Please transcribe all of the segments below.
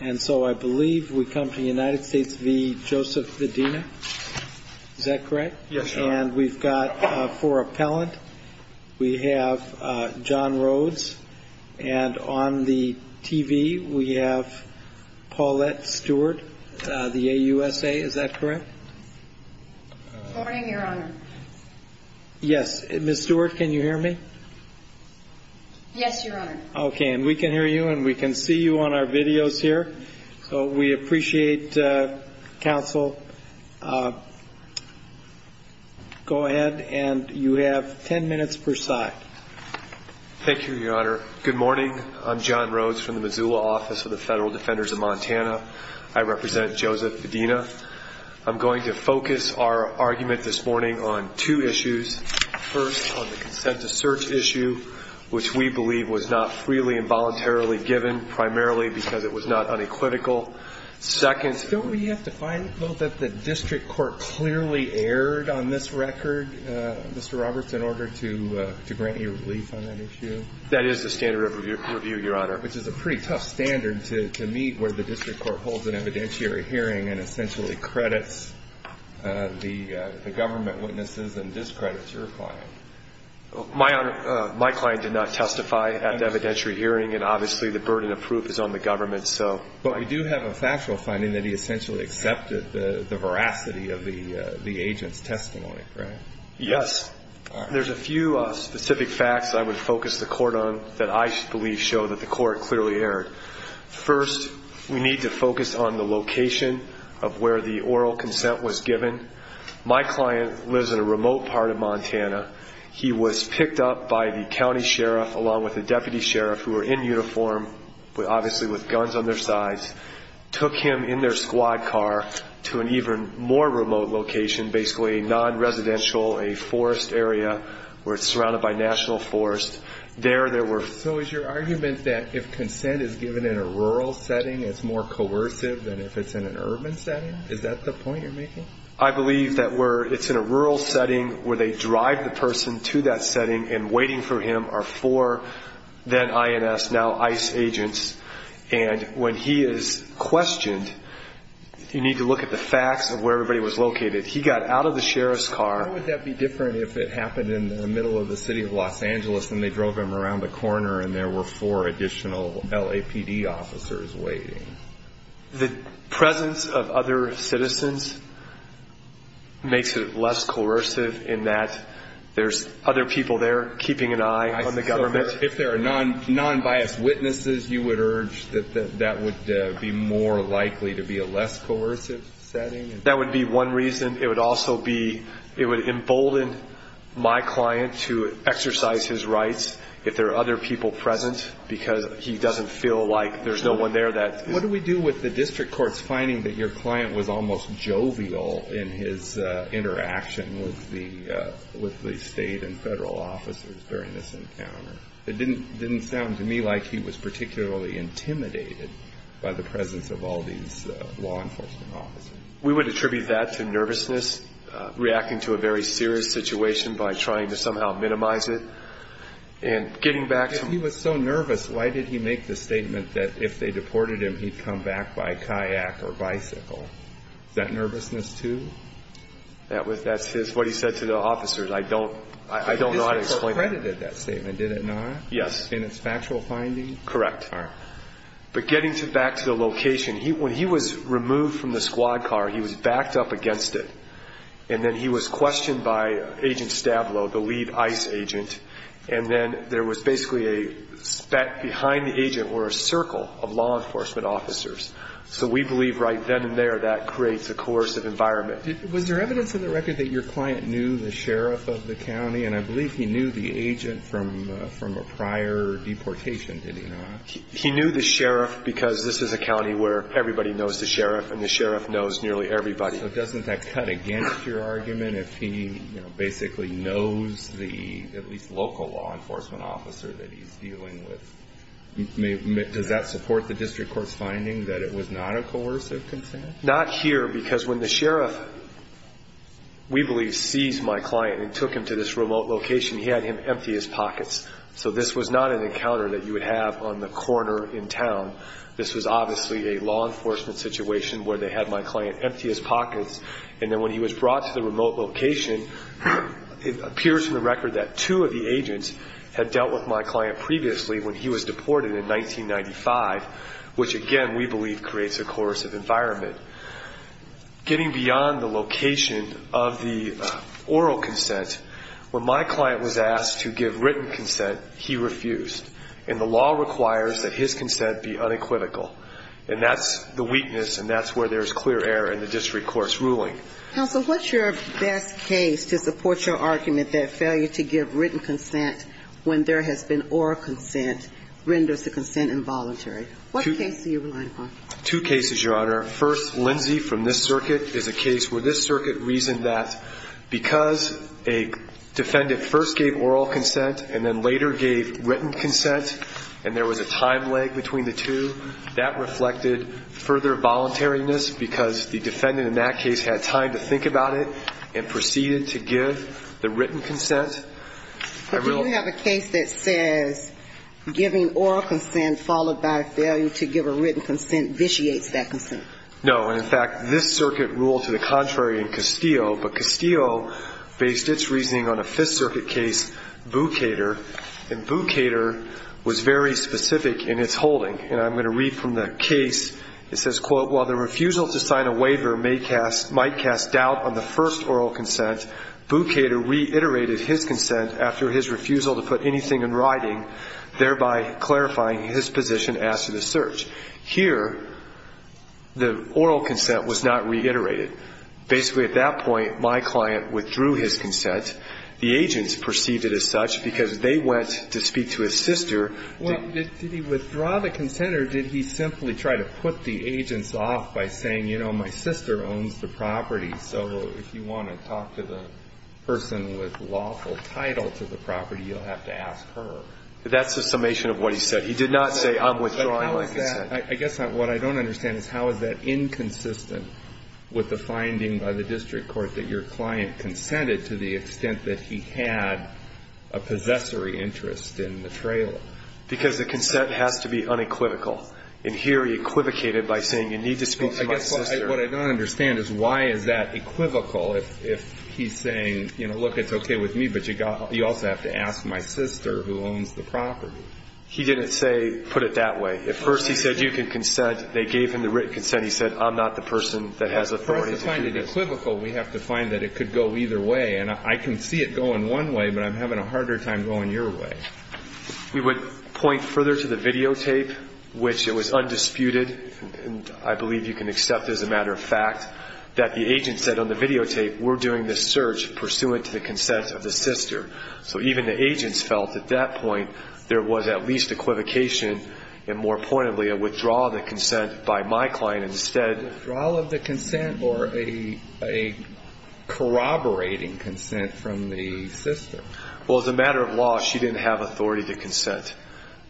And so I believe we come to United States v. Joseph Vadina. Is that correct? Yes, sir. And we've got four appellant. We have John Rhodes. And on the TV, we have Paulette Stewart, the AUSA. Is that correct? Good morning, your honor. Yes. Miss Stewart, can you hear me? Yes, your honor. Okay. And we can hear you and we can see you on our videos here. So we appreciate counsel. Go ahead. And you have ten minutes per side. Thank you, your honor. Good morning. I'm John Rhodes from the Missoula office of the Federal Defenders of Montana. I represent Joseph Vadina. I'm going to focus our argument this morning on two issues. First, on the consent to search issue, which we believe was not freely and voluntarily given, primarily because it was not unequivocal. Second, don't we have to find, though, that the district court clearly erred on this record, Mr. Roberts, in order to grant you relief on that issue? That is the standard of review, your honor. Which is a pretty tough standard to meet where the district court holds an evidentiary hearing and essentially credits the government witnesses and discredits your client. My client did not testify at the evidentiary hearing, and obviously the burden of proof is on the government. But we do have a factual finding that he essentially accepted the veracity of the agent's testimony, right? Yes. There's a few specific facts I would focus the court on that I believe show that the court clearly erred. First, we need to focus on the location of where the oral consent was given. My client lives in a remote part of Montana. He was picked up by the county sheriff, along with the deputy sheriff, who were in uniform, obviously with guns on their sides, took him in their squad car to an even more remote location, basically a non-residential, a forest area where it's surrounded by national forest. So is your argument that if consent is given in a rural setting, it's more coercive than if it's in an urban setting? Is that the point you're making? I believe that where it's in a rural setting, where they drive the person to that setting and waiting for him are four then INS, now ICE agents. And when he is questioned, you need to look at the facts of where everybody was located. He got out of the sheriff's car. How would that be different if it happened in the middle of the city of Los Angeles and they drove him around the corner and there were four additional LAPD officers waiting? The presence of other citizens makes it less coercive in that there's other people there keeping an eye on the government. If there are non-biased witnesses, you would urge that that would be more likely to be a less coercive setting? That would be one reason. It would also be, it would embolden my client to exercise his rights if there are other people present, because he doesn't feel like there's no one there that... What do we do with the district court's finding that your client was almost jovial in his interaction with the state and federal officers during this encounter? It didn't sound to me like he was particularly intimidated by the presence of all these law enforcement officers. We would attribute that to nervousness, reacting to a very serious situation by trying to somehow minimize it, and getting back to... If he was so nervous, why did he make the statement that if they deported him, he'd come back by kayak or bicycle? Is that nervousness, too? That's what he said to the officers. I don't know how to explain that. The district court credited that statement, did it not? Yes. In its factual finding? Correct. All right. But getting back to the location, when he was removed from the squad car, he was backed up against it, and then he was questioned by Agent Stablo, the lead ICE agent, and then there was basically a... Back behind the agent were a circle of law enforcement officers. So we believe right then and there that creates a coercive environment. Was there evidence in the record that your client knew the sheriff of the county? And I believe he knew the agent from a prior deportation, did he not? He knew the sheriff because this is a county where everybody knows the sheriff, and the sheriff knows nearly everybody. So doesn't that cut against your argument if he basically knows the at least local law enforcement officer that he's dealing with? Does that support the district court's finding that it was not a coercive consent? Not here because when the sheriff, we believe, seized my client and took him to this remote location, he had him empty his pockets. So this was not an encounter that you would have on the corner in town. This was obviously a law enforcement situation where they had my client empty his pockets, and then when he was brought to the remote location, it appears in the record that two of the agents had dealt with my client previously when he was deported in 1995, which again, we believe, creates a coercive environment. Getting beyond the location of the oral consent, when my client was asked to give written consent, he refused. And the law requires that his consent be unequivocal. And that's the weakness, and that's where there's clear error in the district court's ruling. Counsel, what's your best case to support your argument that failure to give written consent when there has been oral consent renders the consent involuntary? What case are you relying upon? Two cases, Your Honor. First, Lindsey from this circuit is a case where this circuit reasoned that because a defendant first gave oral consent and then later gave written consent and there was a time lag between the two, that reflected further voluntariness because the defendant in that case had time to think about it and proceeded to give the written consent. But do you have a case that says giving oral consent followed by failure to give a written consent vitiates that consent? No. And, in fact, this circuit ruled to the contrary in Castillo, but Castillo based its reasoning on a Fifth Circuit case, Bukater. And Bukater was very specific in its holding. And I'm going to read from the case. It says, quote, while the refusal to sign a waiver might cast doubt on the first oral consent, Bukater reiterated his consent after his refusal to put anything in writing, thereby clarifying his position after the search. Here, the oral consent was not reiterated. Basically, at that point, my client withdrew his consent. The agents perceived it as such because they went to speak to his sister. Well, did he withdraw the consent or did he simply try to put the agents off by saying, you know, my sister owns the property, so if you want to talk to the person with lawful title to the property, you'll have to ask her? That's a summation of what he said. He did not say, I'm withdrawing my consent. But how is that? I guess what I don't understand is how is that inconsistent with the finding by the district court that your client consented to the extent that he had a possessory interest in the trailer? Because the consent has to be unequivocal. And here he equivocated by saying you need to speak to my sister. I guess what I don't understand is why is that equivocal if he's saying, you know, look, it's okay with me, but you also have to ask my sister who owns the property. He didn't say put it that way. At first he said you can consent. They gave him the written consent. He said I'm not the person that has authority to do this. In order for us to find it equivocal, we have to find that it could go either way. And I can see it going one way, but I'm having a harder time going your way. We would point further to the videotape, which it was undisputed, and I believe you can accept as a matter of fact, that the agent said on the videotape we're doing this search pursuant to the consent of the sister. So even the agents felt at that point there was at least equivocation, and more pointedly a withdrawal of the consent by my client instead. A withdrawal of the consent or a corroborating consent from the sister? Well, as a matter of law, she didn't have authority to consent.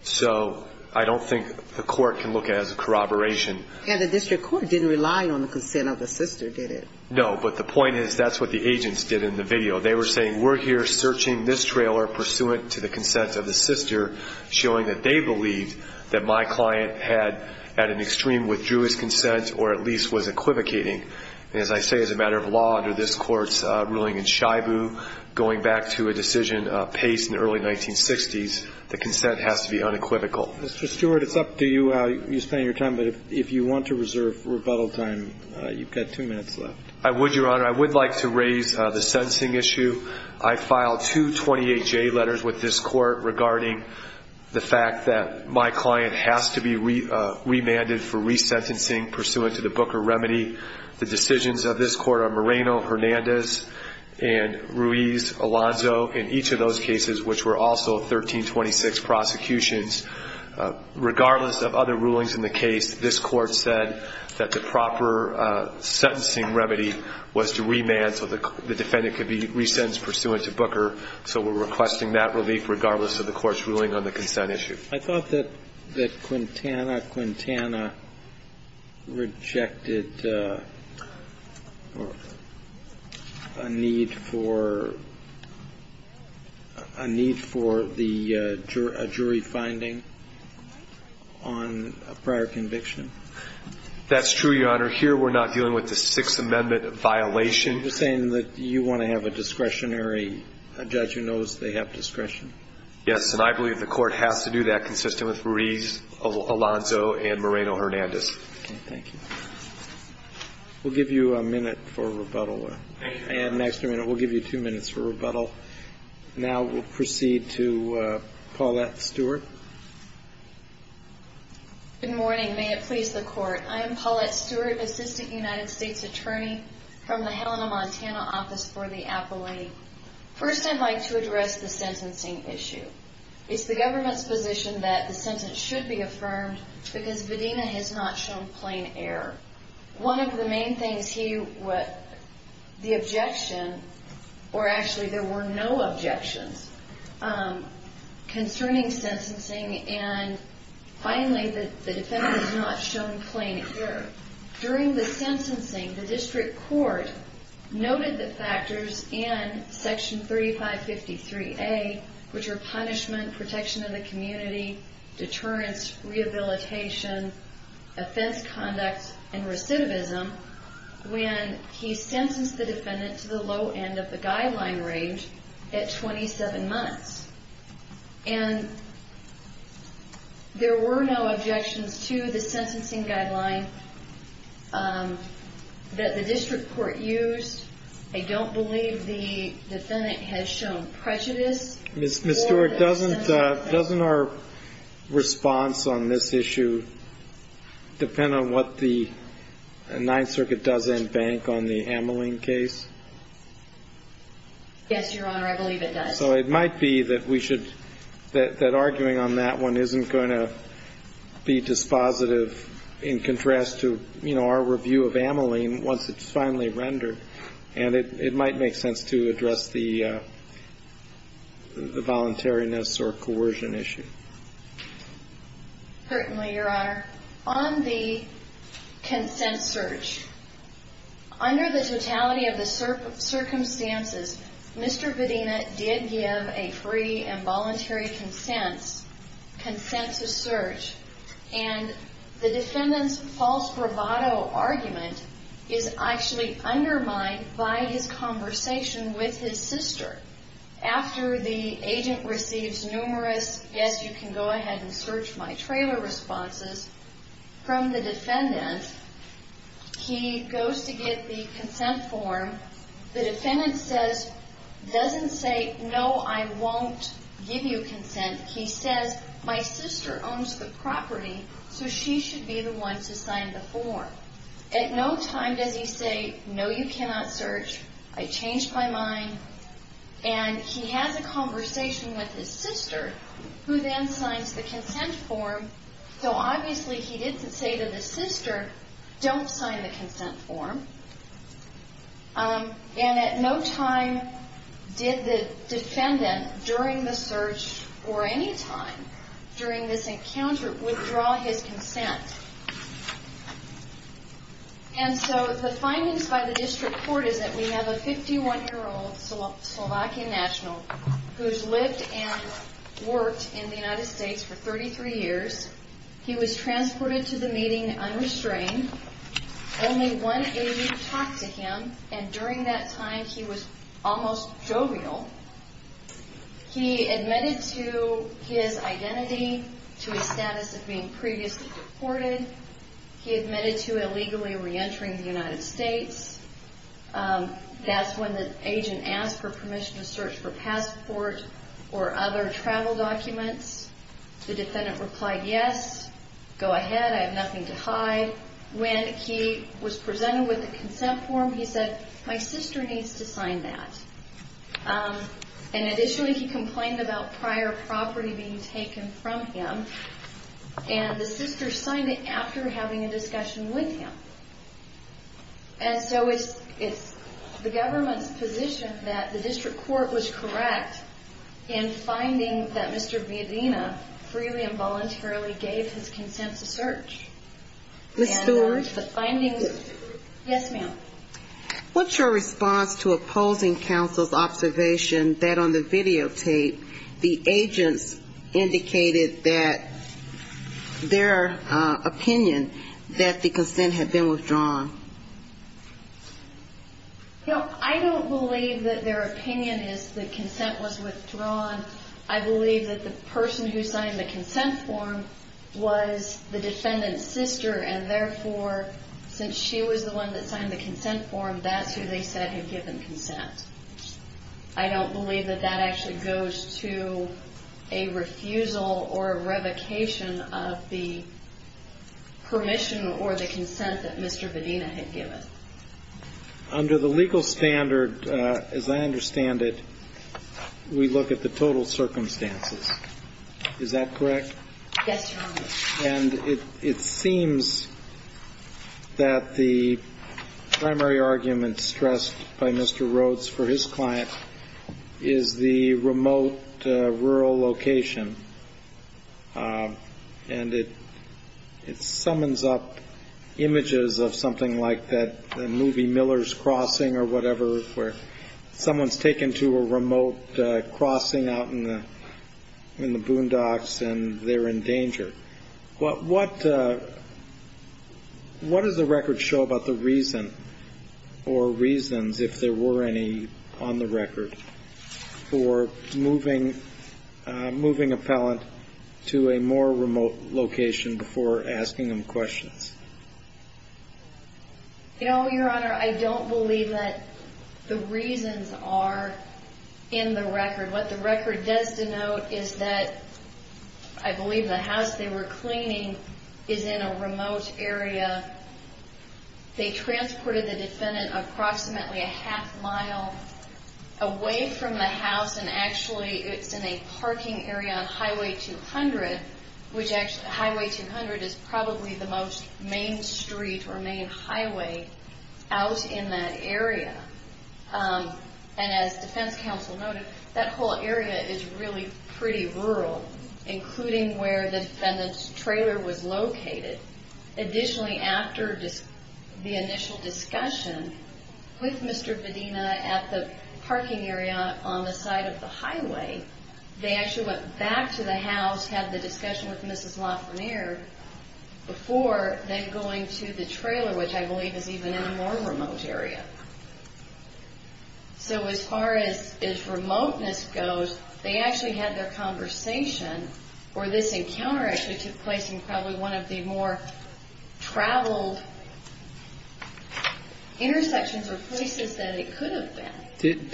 So I don't think the court can look at it as a corroboration. And the district court didn't rely on the consent of the sister, did it? No, but the point is that's what the agents did in the video. They were saying we're here searching this trailer pursuant to the consent of the sister, showing that they believed that my client had at an extreme withdrew his consent or at least was equivocating. And as I say, as a matter of law, under this Court's ruling in Shibu, going back to a decision of Pace in the early 1960s, the consent has to be unequivocal. Mr. Stewart, it's up to you. You spend your time, but if you want to reserve rebuttal time, you've got two minutes left. I would, Your Honor. I would like to raise the sentencing issue. I filed two 28-J letters with this Court regarding the fact that my client has to be remanded for resentencing pursuant to the Booker remedy. The decisions of this Court are Moreno, Hernandez, and Ruiz, Alonzo, and each of those cases, which were also 1326 prosecutions. Regardless of other rulings in the case, this Court said that the proper sentencing remedy was to remand so the defendant could be resentenced pursuant to Booker. So we're requesting that relief regardless of the Court's ruling on the consent issue. I thought that Quintana, Quintana rejected a need for a need for a jury finding on a prior conviction. That's true, Your Honor. Here we're not dealing with the Sixth Amendment violation. You're saying that you want to have a discretionary judge who knows they have discretion? Yes, and I believe the Court has to do that consistent with Ruiz, Alonzo, and Moreno-Hernandez. Okay, thank you. We'll give you a minute for rebuttal. Thank you, Your Honor. And an extra minute. We'll give you two minutes for rebuttal. Now we'll proceed to Paulette Stewart. Good morning. May it please the Court. I am Paulette Stewart, Assistant United States Attorney from the Helena, Montana, Office for the Appellate. First, I'd like to address the sentencing issue. It's the government's position that the sentence should be affirmed because Vadina has not shown plain error. One of the main things he would, the objection, or actually there were no objections concerning sentencing, and finally, the defendant has not shown plain error. During the sentencing, the district court noted the factors in Section 3553A, which are punishment, protection of the community, deterrence, rehabilitation, offense conduct, and recidivism, when he sentenced the defendant to the low end of the guideline range at 27 months. And there were no objections to the sentencing guideline that the district court used. I don't believe the defendant has shown prejudice. Ms. Stewart, doesn't our response on this issue depend on what the Ninth Circuit does in bank on the Ameling case? Yes, Your Honor. I believe it does. So it might be that we should, that arguing on that one isn't going to be dispositive in contrast to, you know, our review of Ameling once it's finally rendered. And it might make sense to address the voluntariness or coercion issue. Pertinly, Your Honor. On the consent search, under the totality of the circumstances, Mr. Bedina did give a free and voluntary consensus search, and the defendant's false bravado argument is actually undermined by his conversation with his sister. After the agent receives numerous, yes, you can go ahead and search my trailer responses, from the defendant, he goes to get the consent form. The defendant says, doesn't say, no, I won't give you consent. He says, my sister owns the property, so she should be the one to sign the form. At no time does he say, no, you cannot search. I changed my mind. And he has a conversation with his sister, who then signs the consent form. So obviously he didn't say to the sister, don't sign the consent form. And at no time did the defendant, during the search or any time during this encounter, withdraw his consent. And so the findings by the district court is that we have a 51-year-old Slovakian national who's lived and worked in the United States for 33 years. He was transported to the meeting unrestrained. Only one agent talked to him, and during that time he was almost jovial. He admitted to his identity, to his status of being previously deported. He admitted to illegally reentering the United States. That's when the agent asked for permission to search for passport or other travel documents. The defendant replied, yes, go ahead, I have nothing to hide. When he was presented with the consent form, he said, my sister needs to sign that. And additionally, he complained about prior property being taken from him, and the sister signed it after having a discussion with him. And so it's the government's position that the district court was correct in finding that Mr. Villadena freely and voluntarily gave his consent to search. Ms. Stewart? Yes, ma'am. What's your response to opposing counsel's observation that on the videotape, the agents indicated that their opinion that the consent had been withdrawn? No, I don't believe that their opinion is that consent was withdrawn. I believe that the person who signed the consent form was the defendant's sister, and therefore, since she was the one that signed the consent form, that's who they said had given consent. I don't believe that that actually goes to a refusal or a revocation of the permission or the consent that Mr. Villadena had given. Under the legal standard, as I understand it, we look at the total circumstances. Is that correct? Yes, Your Honor. And it seems that the primary argument stressed by Mr. Rhodes for his client is the remote rural location. And it summons up images of something like that movie Miller's Crossing or whatever, where someone's taken to a remote crossing out in the boondocks and they're in danger. What does the record show about the reason or reasons, if there were any on the record, for moving a felon to a more remote location before asking him questions? No, Your Honor. I don't believe that the reasons are in the record. What the record does denote is that I believe the house they were cleaning is in a remote area. They transported the defendant approximately a half mile away from the house, and actually it's in a parking area on Highway 200, which Highway 200 is probably the most main street or main highway out in that area. And as defense counsel noted, that whole area is really pretty rural, including where the defendant's trailer was located. Additionally, after the initial discussion with Mr. Bedina at the parking area on the side of the highway, they actually went back to the house, had the discussion with Mrs. Lafreniere, before then going to the trailer, which I believe is even in a more remote area. So as far as remoteness goes, they actually had their conversation, or this encounter actually took place in probably one of the more traveled intersections or places that it could have been. Did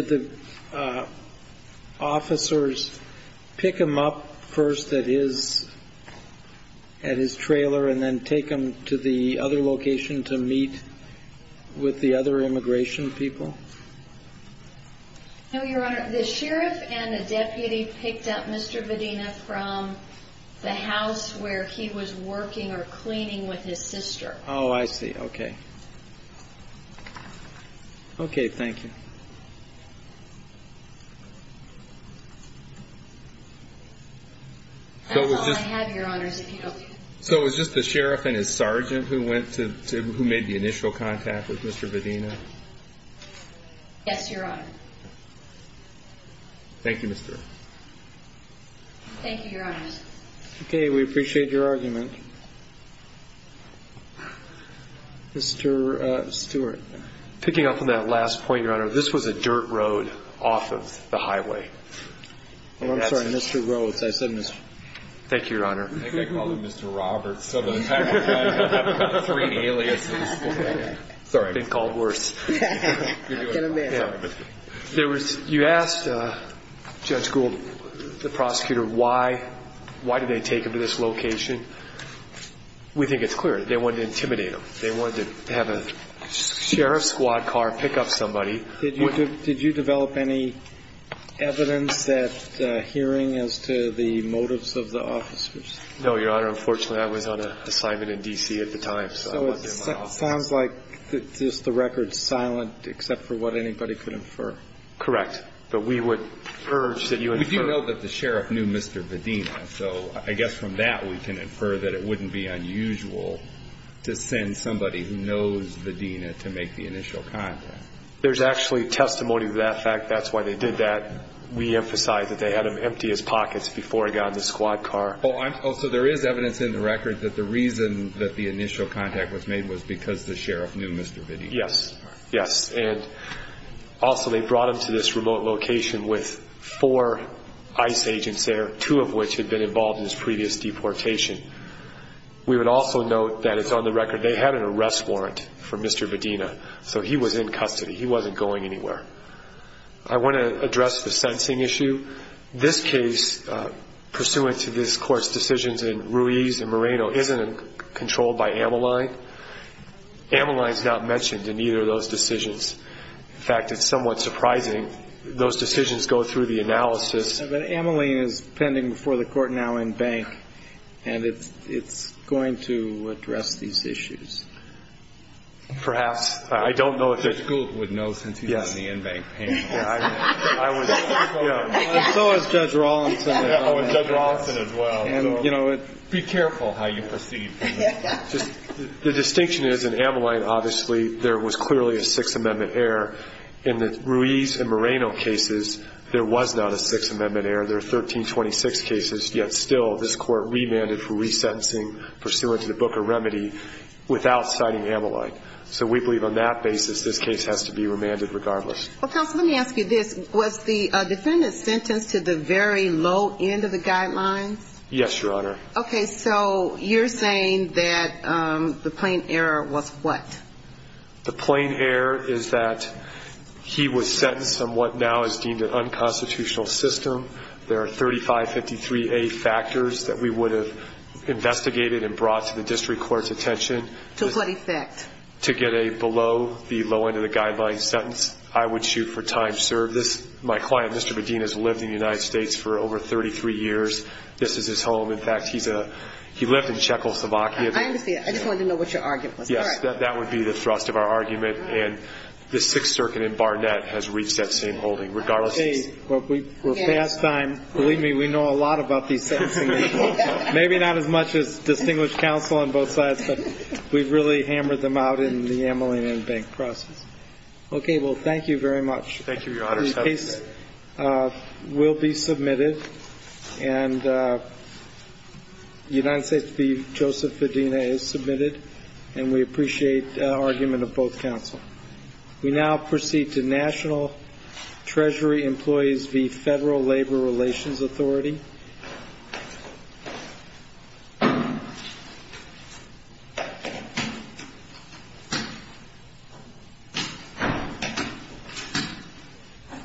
the officers pick him up first at his trailer and then take him to the other location to meet with the other immigration people? No, Your Honor. The sheriff and the deputy picked up Mr. Bedina from the house where he was working or cleaning with his sister. Oh, I see. Okay. Okay. Thank you. That's all I have, Your Honors. So it was just the sheriff and his sergeant who made the initial contact with Mr. Bedina? Yes, Your Honor. Thank you, Mr. Rhodes. Thank you, Your Honors. Okay. We appreciate your argument. Mr. Stewart. Picking up on that last point, Your Honor, this was a dirt road off of the highway. Oh, I'm sorry. Mr. Rhodes. I said Mr. Thank you, Your Honor. I think I called him Mr. Roberts. Sorry. I've been called worse. You asked Judge Gould, the prosecutor, why did they take him to this location. We think it's clear. They wanted to intimidate him. They wanted to have a sheriff's squad car pick up somebody. Did you develop any evidence at hearing as to the motives of the officers? No, Your Honor. Unfortunately, I was on an assignment in D.C. at the time, so I wasn't in my office. So it sounds like just the record's silent except for what anybody could infer. Correct. But we would urge that you infer. We do know that the sheriff knew Mr. Bedina, so I guess from that we can infer that it wouldn't be unusual to send somebody who knows Bedina to make the initial contact. There's actually testimony to that fact. That's why they did that. We emphasize that they had him empty his pockets before he got in the squad car. So there is evidence in the record that the reason that the initial contact was made was because the sheriff knew Mr. Bedina. Yes, yes. And also they brought him to this remote location with four ICE agents there, two of which had been involved in his previous deportation. We would also note that it's on the record they had an arrest warrant for Mr. Bedina, so he was in custody. He wasn't going anywhere. I want to address the sensing issue. This case, pursuant to this Court's decisions in Ruiz and Moreno, isn't controlled by Ameline. Ameline's not mentioned in either of those decisions. In fact, it's somewhat surprising. Those decisions go through the analysis. But Ameline is pending before the Court now in Bank, and it's going to address these issues. Perhaps. I don't know if it's going to. And so is Judge Rawlinson. And Judge Rawlinson as well. Be careful how you proceed. The distinction is in Ameline, obviously, there was clearly a Sixth Amendment error. In the Ruiz and Moreno cases, there was not a Sixth Amendment error. There are 1326 cases, yet still this Court remanded for resentencing, pursuant to the Book of Remedy, without citing Ameline. So we believe on that basis this case has to be remanded regardless. Well, counsel, let me ask you this. Was the defendant sentenced to the very low end of the guidelines? Yes, Your Honor. Okay, so you're saying that the plain error was what? The plain error is that he was sentenced on what now is deemed an unconstitutional system. There are 3553A factors that we would have investigated and brought to the district court's attention. To what effect? To get a below-the-low-end-of-the-guidelines sentence. I would shoot for time served. My client, Mr. Medina, has lived in the United States for over 33 years. This is his home. In fact, he lived in Czechoslovakia. I understand. I just wanted to know what your argument was. Yes, that would be the thrust of our argument. And the Sixth Circuit in Barnett has reached that same holding regardless. See, we're fast time. Believe me, we know a lot about these sentencing issues. Maybe not as much as distinguished counsel on both sides, but we've really hammered them out in the Amalina and Bank process. Okay, well, thank you very much. Thank you, Your Honor. The case will be submitted, and United States v. Joseph Medina is submitted, and we appreciate the argument of both counsel. We now proceed to National Treasury Employees v. Federal Labor Relations Authority.